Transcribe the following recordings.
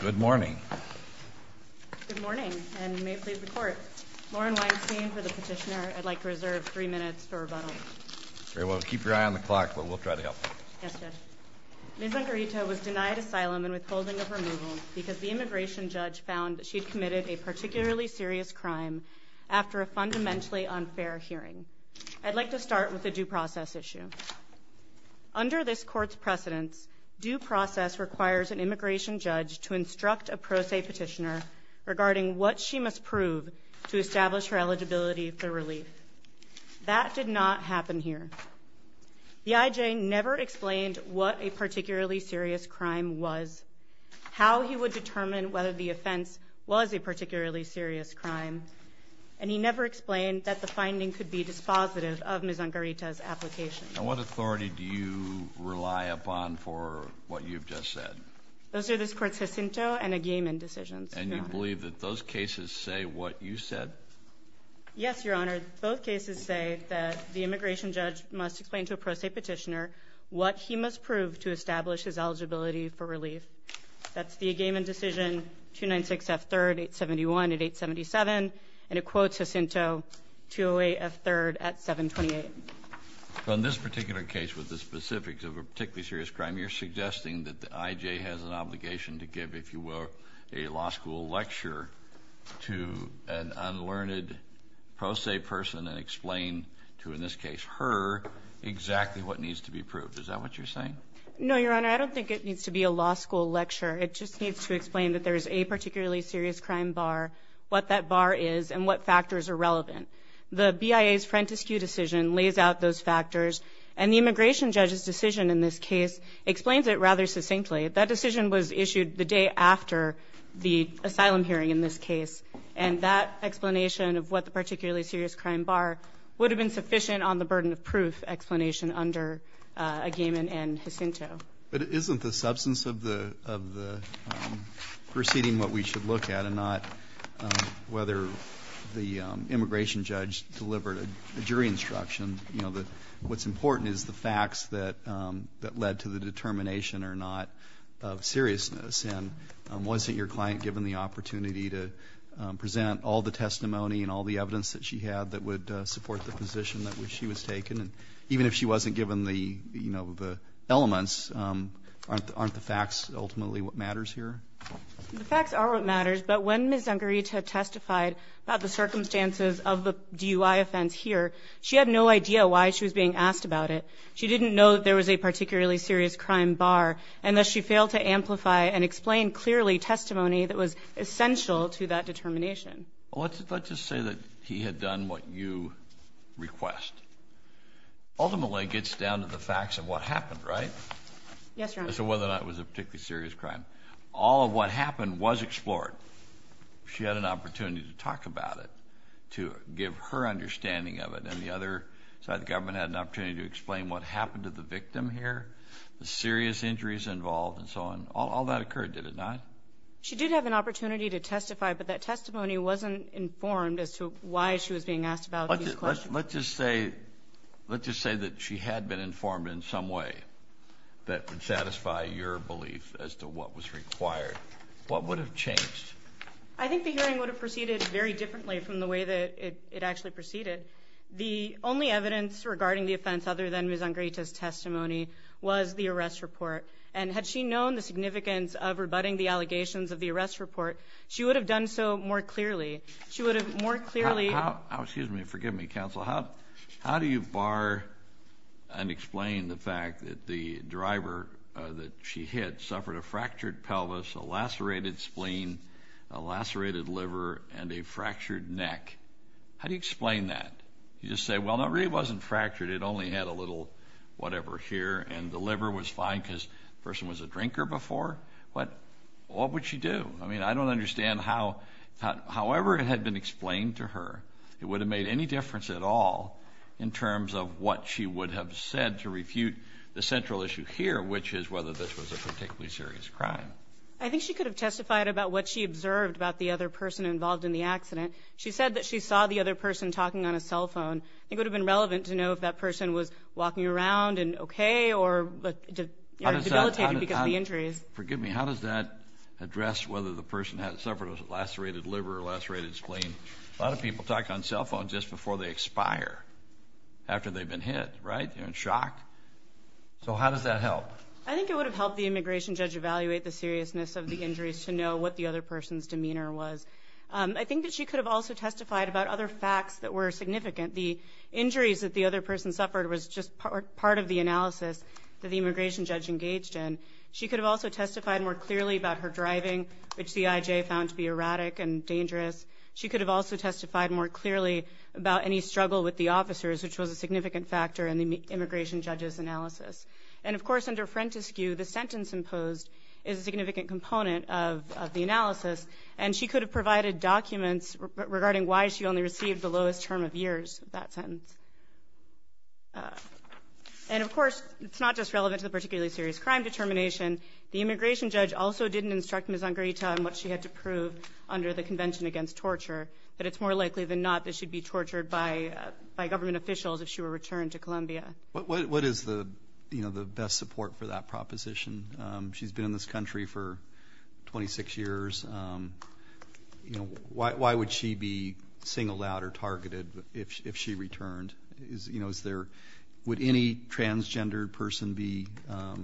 Good morning. Good morning, and may it please the Court. Lauren Weinstein for the petitioner. I'd like to reserve three minutes for rebuttal. Very well. Keep your eye on the clock, but we'll try to help. Yes, Judge. Ms. Angarita was denied asylum and withholding of removal because the immigration judge found that she'd committed a particularly serious crime after a fundamentally unfair hearing. I'd like to start with the due process issue. Under this Court's precedence, due process requires an immigration judge to instruct a pro se petitioner regarding what she must prove to establish her eligibility for relief. That did not happen here. The IJ never explained what a particularly serious crime was, how he would determine whether the offense was a particularly serious crime, and he never explained that the finding could be dispositive of Ms. Angarita's application. And what authority do you rely upon for what you've just said? Those are this Court's Jacinto and Agamen decisions. And you believe that those cases say what you said? Yes, Your Honor. Both cases say that the immigration judge must explain to a pro se petitioner what he must prove to establish his eligibility for relief. That's the Agamen decision, 296 F. 3rd, 871 at 877, and it quotes Jacinto, 208 F. 3rd at 728. On this particular case with the specifics of a particularly serious crime, you're suggesting that the IJ has an obligation to give, if you will, a law school lecture to an unlearned pro se person and explain to, in this case, her exactly what needs to be proved. Is that what you're saying? No, Your Honor. I don't think it needs to be a law school lecture. It just needs to explain that there is a particularly serious crime bar, what that bar is, and what factors are relevant. The BIA's Frentis Q decision lays out those factors, and the immigration judge's decision in this case explains it rather succinctly. That decision was issued the day after the asylum hearing in this case, and that explanation of what the particularly serious crime bar would have been sufficient on the burden of proof explanation under Agamemnon and Jacinto. But isn't the substance of the proceeding what we should look at and not whether the immigration judge delivered a jury instruction? You know, what's important is the facts that led to the determination or not of seriousness, and was it your client given the opportunity to present all the testimony and all the evidence that she had that would support the position that she was taken? And even if she wasn't given the, you know, the elements, aren't the facts ultimately what matters here? The facts are what matters, but when Ms. Zangarita testified about the circumstances of the DUI offense here, she had no idea why she was being asked about it. She didn't know that there was a particularly serious crime bar, and thus she failed to amplify and explain clearly testimony that was essential to that determination. Well, let's just say that he had done what you request. Ultimately, it gets down to the facts of what happened, right? Yes, Your Honor. As to whether or not it was a particularly serious crime. All of what happened was explored. She had an opportunity to talk about it, to give her understanding of it, and the other side of the government had an opportunity to explain what happened to the victim here, the serious injuries involved and so on. All that occurred, did it not? She did have an opportunity to testify, but that testimony wasn't informed as to why she was being asked about these questions. Let's just say that she had been informed in some way that would satisfy your belief as to what was required. What would have changed? I think the hearing would have proceeded very differently from the way that it actually proceeded. The only evidence regarding the offense other than Ms. Zangarita's testimony was the arrest report, and had she known the significance of rebutting the allegations of the arrest report, she would have done so more clearly. She would have more clearly— Excuse me. Forgive me, counsel. How do you bar and explain the fact that the driver that she hit suffered a fractured pelvis, a lacerated spleen, a lacerated liver, and a fractured neck? How do you explain that? You just say, well, it really wasn't fractured. It only had a little whatever here, and the liver was fine because the person was a drinker before. What would she do? I mean, I don't understand how—however it had been explained to her, it would have made any difference at all in terms of what she would have said to refute the central issue here, which is whether this was a particularly serious crime. I think she could have testified about what she observed about the other person involved in the accident. She said that she saw the other person talking on a cell phone. It would have been relevant to know if that person was walking around and okay or debilitated because of the injuries. Forgive me. How does that address whether the person had suffered a lacerated liver or a lacerated spleen? A lot of people talk on cell phones just before they expire after they've been hit, right? You're in shock. So how does that help? I think it would have helped the immigration judge evaluate the seriousness of the injuries to know what the other person's demeanor was. I think that she could have also testified about other facts that were significant. The injuries that the other person suffered was just part of the analysis that the immigration judge engaged in. She could have also testified more clearly about her driving, which the IJ found to be erratic and dangerous. She could have also testified more clearly about any struggle with the officers, which was a significant factor in the immigration judge's analysis. And, of course, under Frentiscue, the sentence imposed is a significant component of the analysis, and she could have provided documents regarding why she only received the lowest term of years of that sentence. And, of course, it's not just relevant to the particularly serious crime determination. The immigration judge also didn't instruct Ms. Angrita on what she had to prove under the Convention Against Torture, that it's more likely than not that she'd be tortured by government officials if she were returned to Colombia. What is the best support for that proposition? She's been in this country for 26 years. You know, why would she be singled out or targeted if she returned? You know, would any transgender person be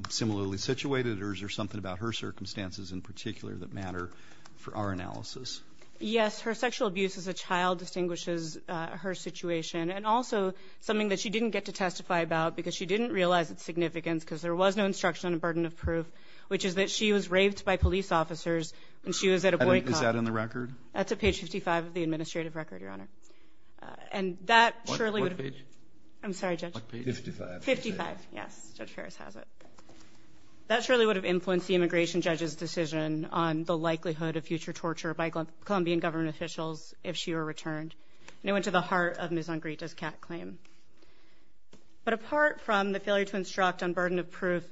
similarly situated, or is there something about her circumstances in particular that matter for our analysis? Yes, her sexual abuse as a child distinguishes her situation, and also something that she didn't get to testify about because she didn't realize its significance because there was no instruction on a burden of proof, which is that she was raped by police officers when she was at a boycott. Is that on the record? That's at page 55 of the administrative record, Your Honor. And that surely would have... What page? I'm sorry, Judge. What page? 55. 55, yes. Judge Ferris has it. That surely would have influenced the immigration judge's decision on the likelihood of future torture by Colombian government officials if she were returned. And it went to the heart of Ms. Angrita's CAT claim. But apart from the failure to instruct on burden of proof,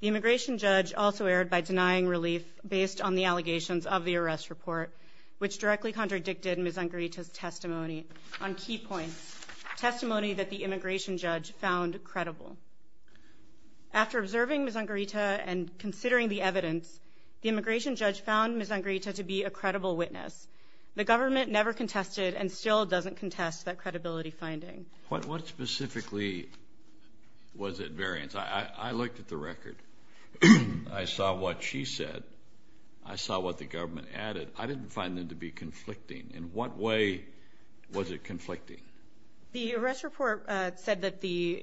the immigration judge also erred by denying relief based on the allegations of the arrest report, which directly contradicted Ms. Angrita's testimony on key points, testimony that the immigration judge found credible. After observing Ms. Angrita and considering the evidence, the immigration judge found Ms. Angrita to be a credible witness. The government never contested and still doesn't contest that credibility finding. What specifically was at variance? I looked at the record. I saw what she said. I saw what the government added. I didn't find them to be conflicting. In what way was it conflicting? The arrest report said that the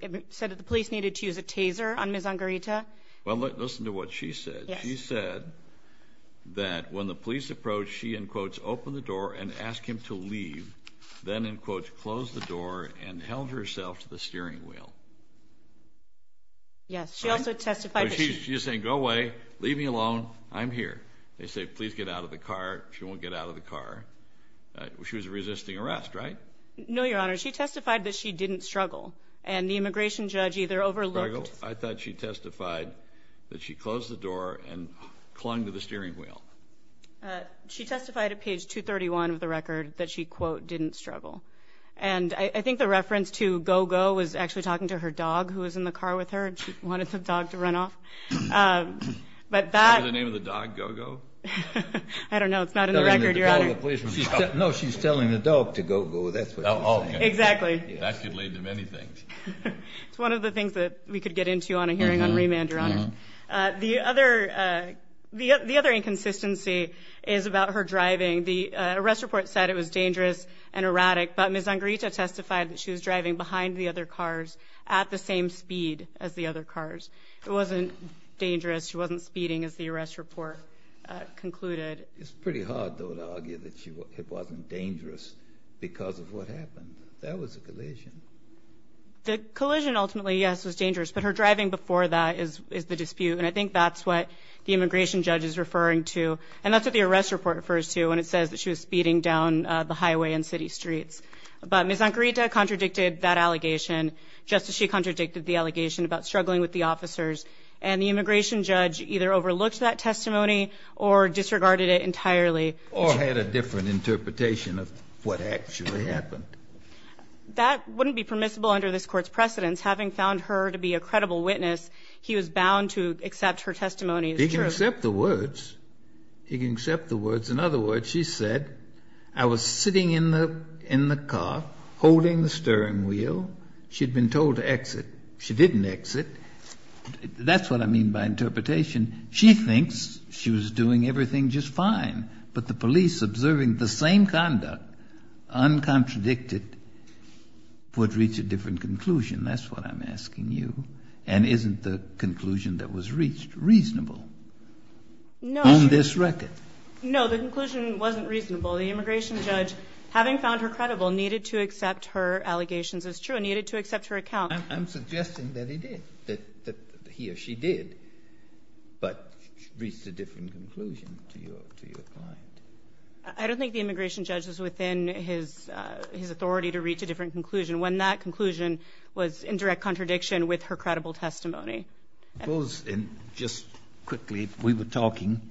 police needed to use a taser on Ms. Angrita. Well, listen to what she said. She said that when the police approached, she, in quotes, opened the door and asked him to leave, then, in quotes, closed the door and held herself to the steering wheel. Yes. She also testified. She's saying, go away, leave me alone, I'm here. They say, please get out of the car. She won't get out of the car. She was resisting arrest, right? No, Your Honor. She testified that she didn't struggle, and the immigration judge either overlooked. I thought she testified that she closed the door and clung to the steering wheel. She testified at page 231 of the record that she, quote, didn't struggle. And I think the reference to go-go was actually talking to her dog, who was in the car with her, and she wanted the dog to run off. Was the name of the dog go-go? I don't know. It's not in the record, Your Honor. No, she's telling the dog to go-go. That's what she's saying. Exactly. That could lead to many things. It's one of the things that we could get into on a hearing on remand, Your Honor. The other inconsistency is about her driving. The arrest report said it was dangerous and erratic, but Ms. Angarita testified that she was driving behind the other cars at the same speed as the other cars. It wasn't dangerous. She wasn't speeding, as the arrest report concluded. It's pretty hard, though, to argue that it wasn't dangerous because of what happened. That was a collision. The collision, ultimately, yes, was dangerous. But her driving before that is the dispute, and I think that's what the immigration judge is referring to, and that's what the arrest report refers to when it says that she was speeding down the highway and city streets. But Ms. Angarita contradicted that allegation just as she contradicted the allegation about struggling with the officers, and the immigration judge either overlooked that testimony or disregarded it entirely. Or had a different interpretation of what actually happened. That wouldn't be permissible under this Court's precedence. Having found her to be a credible witness, he was bound to accept her testimony as truth. He can accept the words. He can accept the words. In other words, she said, I was sitting in the car holding the steering wheel. She had been told to exit. She didn't exit. That's what I mean by interpretation. She thinks she was doing everything just fine, but the police, observing the same conduct, uncontradicted, would reach a different conclusion. That's what I'm asking you. And isn't the conclusion that was reached reasonable on this record? No. The conclusion wasn't reasonable. The immigration judge, having found her credible, needed to accept her allegations as true, needed to accept her account. I'm suggesting that he did, that he or she did, but reached a different conclusion to your client. I don't think the immigration judge was within his authority to reach a different conclusion when that conclusion was in direct contradiction with her credible testimony. Suppose, and just quickly, if we were talking,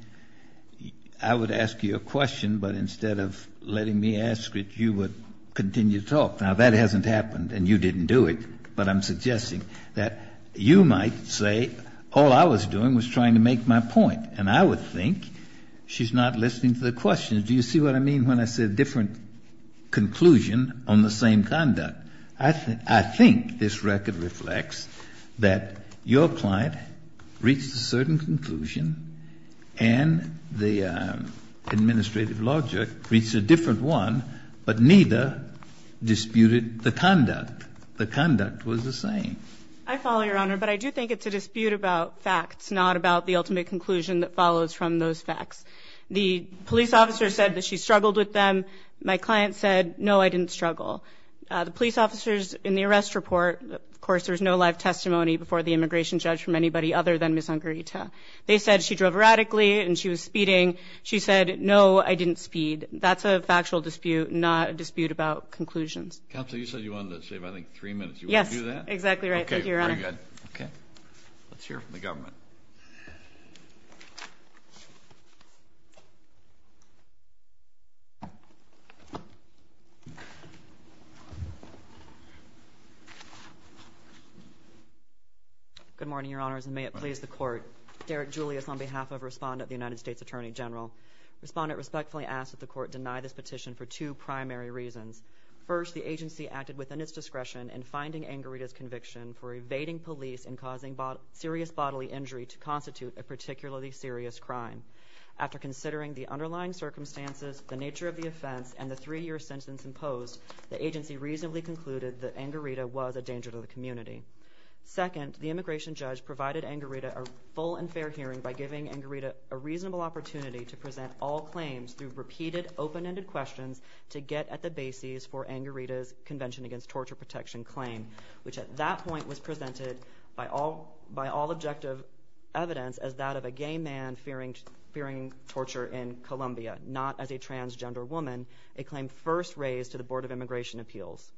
I would ask you a question, but instead of letting me ask it, you would continue to talk. Now, that hasn't happened, and you didn't do it, but I'm suggesting that you might say, all I was doing was trying to make my point, and I would think she's not listening to the question. Do you see what I mean when I said different conclusion on the same conduct? I think this record reflects that your client reached a certain conclusion and the administrative law judge reached a different one, but neither disputed the conduct. The conduct was the same. I follow, Your Honor, but I do think it's a dispute about facts, not about the ultimate conclusion that follows from those facts. The police officer said that she struggled with them. My client said, no, I didn't struggle. The police officers in the arrest report, of course, there's no live testimony before the immigration judge from anybody other than Ms. Ungarita. They said she drove radically and she was speeding. She said, no, I didn't speed. That's a factual dispute, not a dispute about conclusions. Counsel, you said you wanted to save, I think, three minutes. You want to do that? Yes, exactly right. Thank you, Your Honor. Okay, very good. Let's hear from the government. Good morning, Your Honors, and may it please the Court. Derek Julius on behalf of Respondent of the United States Attorney General. Respondent respectfully asks that the Court deny this petition for two primary reasons. First, the agency acted within its discretion in finding Ungarita's conviction for evading police and causing serious bodily injury to constitute a particularly serious crime. After considering the underlying circumstances, the nature of the offense, and the three-year sentence imposed, the agency reasonably concluded that Ungarita was a danger to the community. Second, the immigration judge provided Ungarita a full and fair hearing by giving Ungarita a reasonable opportunity to present all claims through repeated open-ended questions to get at the bases for Ungarita's Convention Against Torture Protection claim, which at that point was presented by all objective evidence as that of a gay man fearing torture in Colombia, not as a transgender woman, a claim first raised to the Board of Immigration Appeals.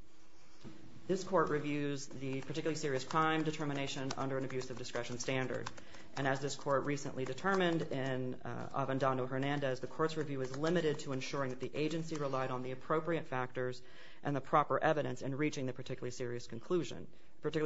This Court reviews the particularly serious crime determination under an abusive discretion standard, and as this Court recently determined in Avendano-Hernandez, the Court's review is limited to ensuring that the agency relied on the appropriate factors and the proper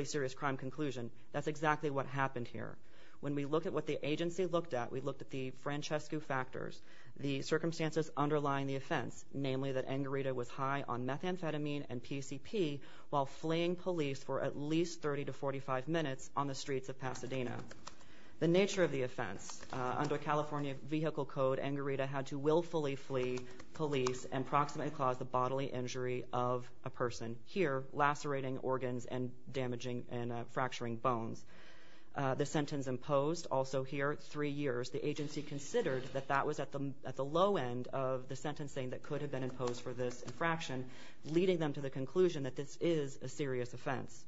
serious crime conclusion. That's exactly what happened here. When we look at what the agency looked at, we looked at the Francesco factors, the circumstances underlying the offense, namely that Ungarita was high on methamphetamine and PCP while fleeing police for at least 30 to 45 minutes on the streets of Pasadena. The nature of the offense, under California Vehicle Code, Ungarita had to willfully flee police and proximately cause the bodily injury of a person here, lacerating organs and damaging and fracturing bones. The sentence imposed, also here, three years, the agency considered that that was at the low end of the sentencing that could have been imposed for this infraction, leading them to the conclusion that this is a serious offense.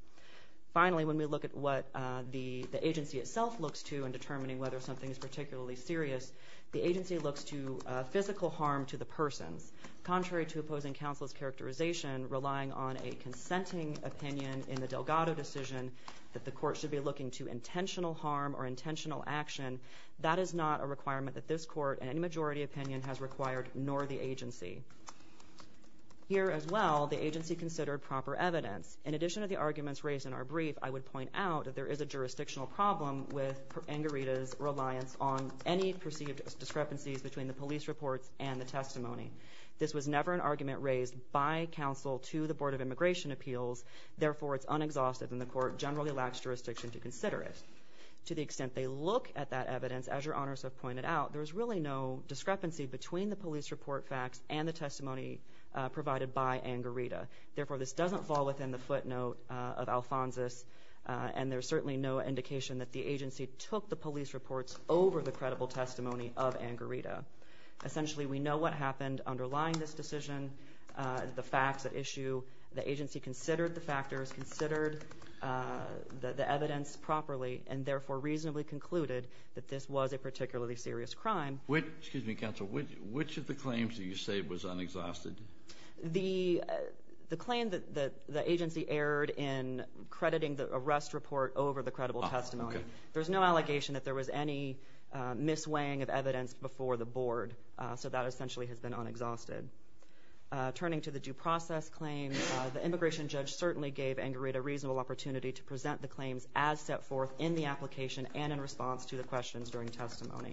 Finally, when we look at what the agency itself looks to in determining whether something is particularly serious, the agency looks to physical harm to the persons. Contrary to opposing counsel's characterization, relying on a consenting opinion in the Delgado decision that the court should be looking to intentional harm or intentional action, that is not a requirement that this court, in any majority opinion, has required, nor the agency. Here as well, the agency considered proper evidence. In addition to the arguments raised in our brief, I would point out that there is a jurisdictional problem with Ungarita's reliance on any perceived discrepancies between the police reports and the testimony. This was never an argument raised by counsel to the Board of Immigration Appeals, therefore it's unexhausted and the court generally lacks jurisdiction to consider it. To the extent they look at that evidence, as your honors have pointed out, there is really no discrepancy between the police report facts and the testimony provided by Ungarita. Therefore, this doesn't fall within the footnote of Alphonsus, and there's certainly no indication that the agency took the police reports over the credible testimony of Ungarita. Essentially, we know what happened underlying this decision, the facts at issue. The agency considered the factors, considered the evidence properly, and therefore reasonably concluded that this was a particularly serious crime. Excuse me, counsel, which of the claims do you say was unexhausted? The claim that the agency erred in crediting the arrest report over the credible testimony. There's no allegation that there was any mis-weighing of evidence before the board, so that essentially has been unexhausted. Turning to the due process claim, the immigration judge certainly gave Ungarita a reasonable opportunity to present the claims as set forth in the application and in response to the questions during testimony.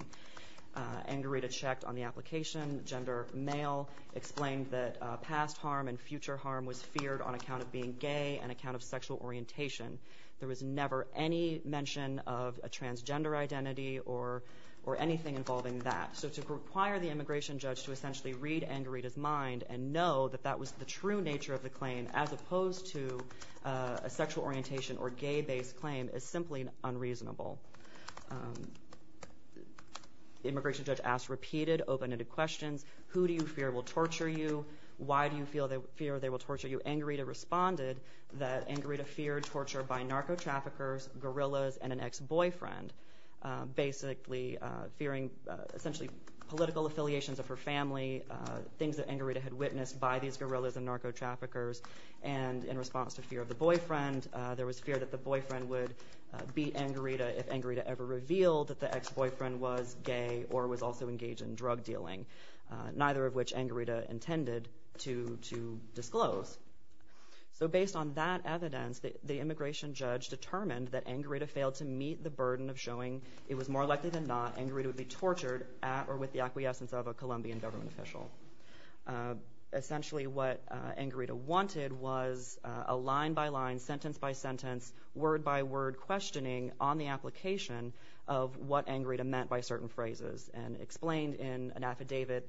Ungarita checked on the application. Gender male explained that past harm and future harm was feared on account of being gay and account of sexual orientation. There was never any mention of a transgender identity or anything involving that. So to require the immigration judge to essentially read Ungarita's mind and know that that was the true nature of the claim, as opposed to a sexual orientation or gay-based claim, is simply unreasonable. The immigration judge asked repeated, open-ended questions. Who do you fear will torture you? Why do you fear they will torture you? Ungarita responded that Ungarita feared torture by narco-traffickers, guerrillas, and an ex-boyfriend. Basically, fearing essentially political affiliations of her family, things that Ungarita had witnessed by these guerrillas and narco-traffickers. And in response to fear of the boyfriend, there was fear that the boyfriend would beat Ungarita if Ungarita ever revealed that the ex-boyfriend was gay or was also engaged in drug dealing, neither of which Ungarita intended to disclose. So based on that evidence, the immigration judge determined that Ungarita failed to meet the burden of showing it was more likely than not Ungarita would be tortured or with the acquiescence of a Colombian government official. Essentially, what Ungarita wanted was a line-by-line, sentence-by-sentence, word-by-word questioning on the application of what Ungarita meant by certain phrases, and explained in an affidavit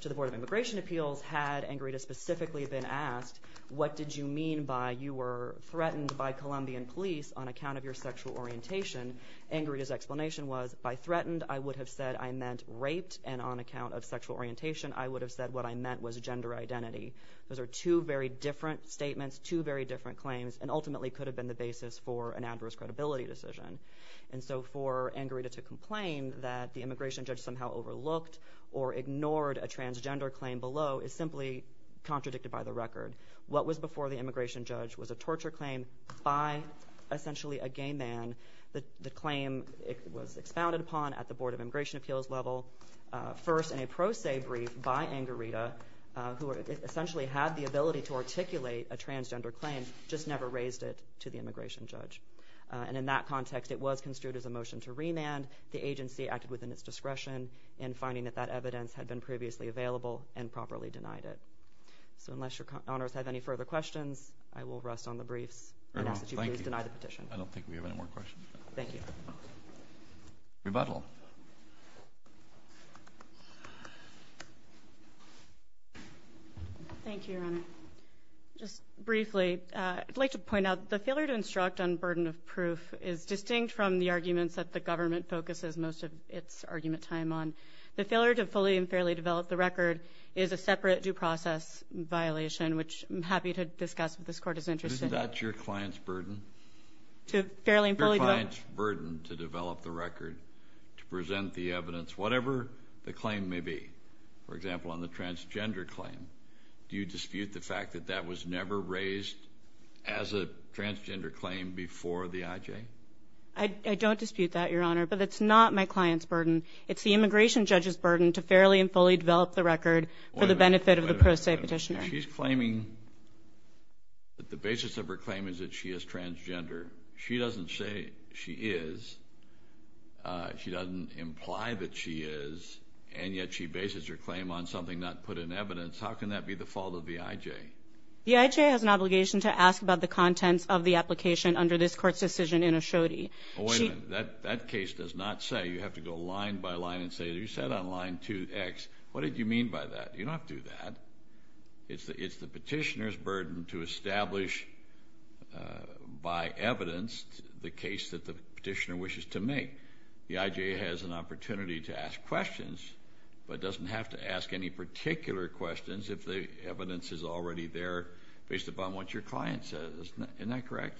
to the Board of Immigration Appeals, had Ungarita specifically been asked, what did you mean by you were threatened by Colombian police on account of your sexual orientation? Ungarita's explanation was, by threatened, I would have said I meant raped, and on account of sexual orientation, I would have said what I meant was gender identity. Those are two very different statements, two very different claims, and ultimately could have been the basis for an adverse credibility decision. And so for Ungarita to complain that the immigration judge somehow overlooked or ignored a transgender claim below is simply contradicted by the record. What was before the immigration judge was a torture claim by, essentially, a gay man. The claim was expounded upon at the Board of Immigration Appeals level, first in a pro se brief by Ungarita, who essentially had the ability to articulate a transgender claim, just never raised it to the immigration judge. And in that context, it was construed as a motion to remand. The agency acted within its discretion in finding that that evidence had been previously available and properly denied it. So unless your honors have any further questions, I will rest on the briefs. I ask that you please deny the petition. I don't think we have any more questions. Thank you. Rebuttal. Thank you, Your Honor. Just briefly, I'd like to point out the failure to instruct on burden of proof is distinct from the arguments that the government focuses most of its argument time on. The failure to fully and fairly develop the record is a separate due process violation, which I'm happy to discuss if this Court is interested. Isn't that your client's burden? To fairly and fully develop? Your client's burden to develop the record, to present the evidence, whatever the claim may be. For example, on the transgender claim, do you dispute the fact that that was never raised as a transgender claim before the IJ? I don't dispute that, Your Honor, but it's not my client's burden. It's the immigration judge's burden to fairly and fully develop the record for the benefit of the pro se petitioner. She's claiming that the basis of her claim is that she is transgender. She doesn't say she is. She doesn't imply that she is, and yet she bases her claim on something not put in evidence. How can that be the fault of the IJ? The IJ has an obligation to ask about the contents of the application under this Court's decision in Ashodi. Oh, wait a minute. That case does not say you have to go line by line and say, you said on line 2X, what did you mean by that? You don't have to do that. It's the petitioner's burden to establish by evidence the case that the petitioner wishes to make. The IJ has an opportunity to ask questions, but doesn't have to ask any particular questions if the evidence is already there based upon what your client says. Isn't that correct?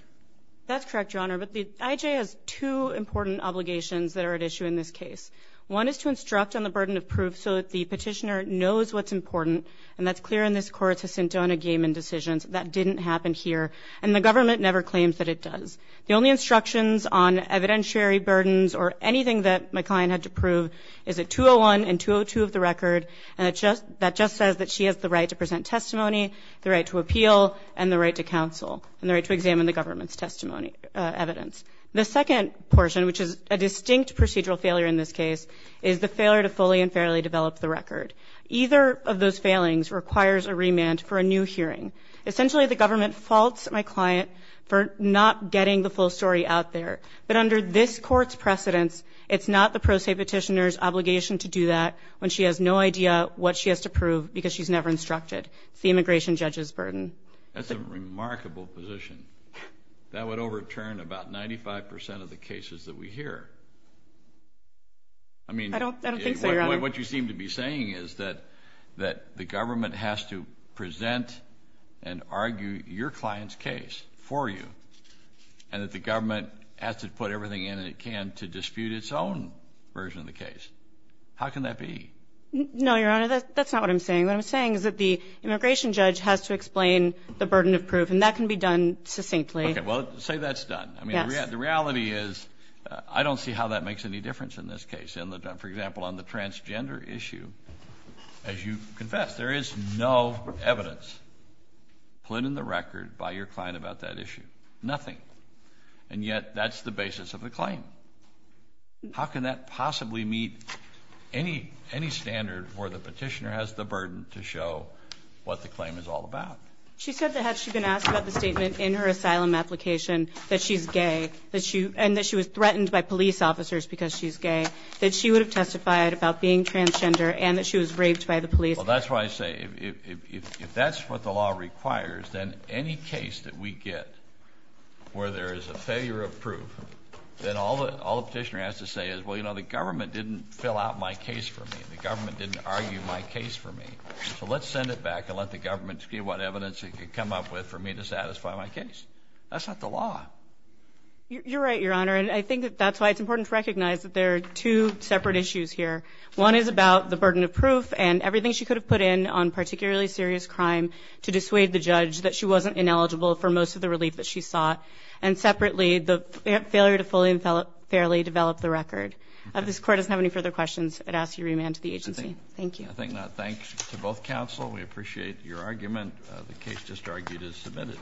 That's correct, Your Honor, but the IJ has two important obligations that are at issue in this case. One is to instruct on the burden of proof so that the petitioner knows what's important, and that's clear in this Court's Jacinto and Agamemnon decisions. That didn't happen here, and the government never claims that it does. The only instructions on evidentiary burdens or anything that my client had to prove is at 201 and 202 of the record, and that just says that she has the right to present testimony, the right to appeal, and the right to counsel, and the right to examine the government's testimony evidence. The second portion, which is a distinct procedural failure in this case, is the failure to fully and fairly develop the record. Either of those failings requires a remand for a new hearing. Essentially, the government faults my client for not getting the full story out there, but under this Court's precedence, it's not the pro se petitioner's obligation to do that when she has no idea what she has to prove because she's never instructed. It's the immigration judge's burden. That's a remarkable position. That would overturn about 95 percent of the cases that we hear. I don't think so, Your Honor. What you seem to be saying is that the government has to present and argue your client's case for you and that the government has to put everything in it it can to dispute its own version of the case. How can that be? No, Your Honor. That's not what I'm saying. What I'm saying is that the immigration judge has to explain the burden of proof, and that can be done succinctly. Okay. Well, say that's done. Yes. I mean, the reality is I don't see how that makes any difference in this case. For example, on the transgender issue, as you confessed, there is no evidence put in the record by your client about that issue. Nothing. And yet that's the basis of the claim. How can that possibly meet any standard where the petitioner has the burden to show what the claim is all about? She said that had she been asked about the statement in her asylum application that she's gay and that she was threatened by police officers because she's gay, that she would have testified about being transgender and that she was raped by the police. Well, that's why I say if that's what the law requires, then any case that we get where there is a failure of proof, then all the petitioner has to say is, well, you know, the government didn't fill out my case for me. The government didn't argue my case for me. So let's send it back and let the government see what evidence it can come up with for me to satisfy my case. That's not the law. You're right, Your Honor. And I think that's why it's important to recognize that there are two separate issues here. One is about the burden of proof and everything she could have put in on particularly serious crime to dissuade the judge that she wasn't ineligible for most of the relief that she sought. And separately, the failure to fully and fairly develop the record. If this Court doesn't have any further questions, I'd ask you to remand to the agency. Thank you. I thank both counsel. We appreciate your argument. The case just argued is submitted.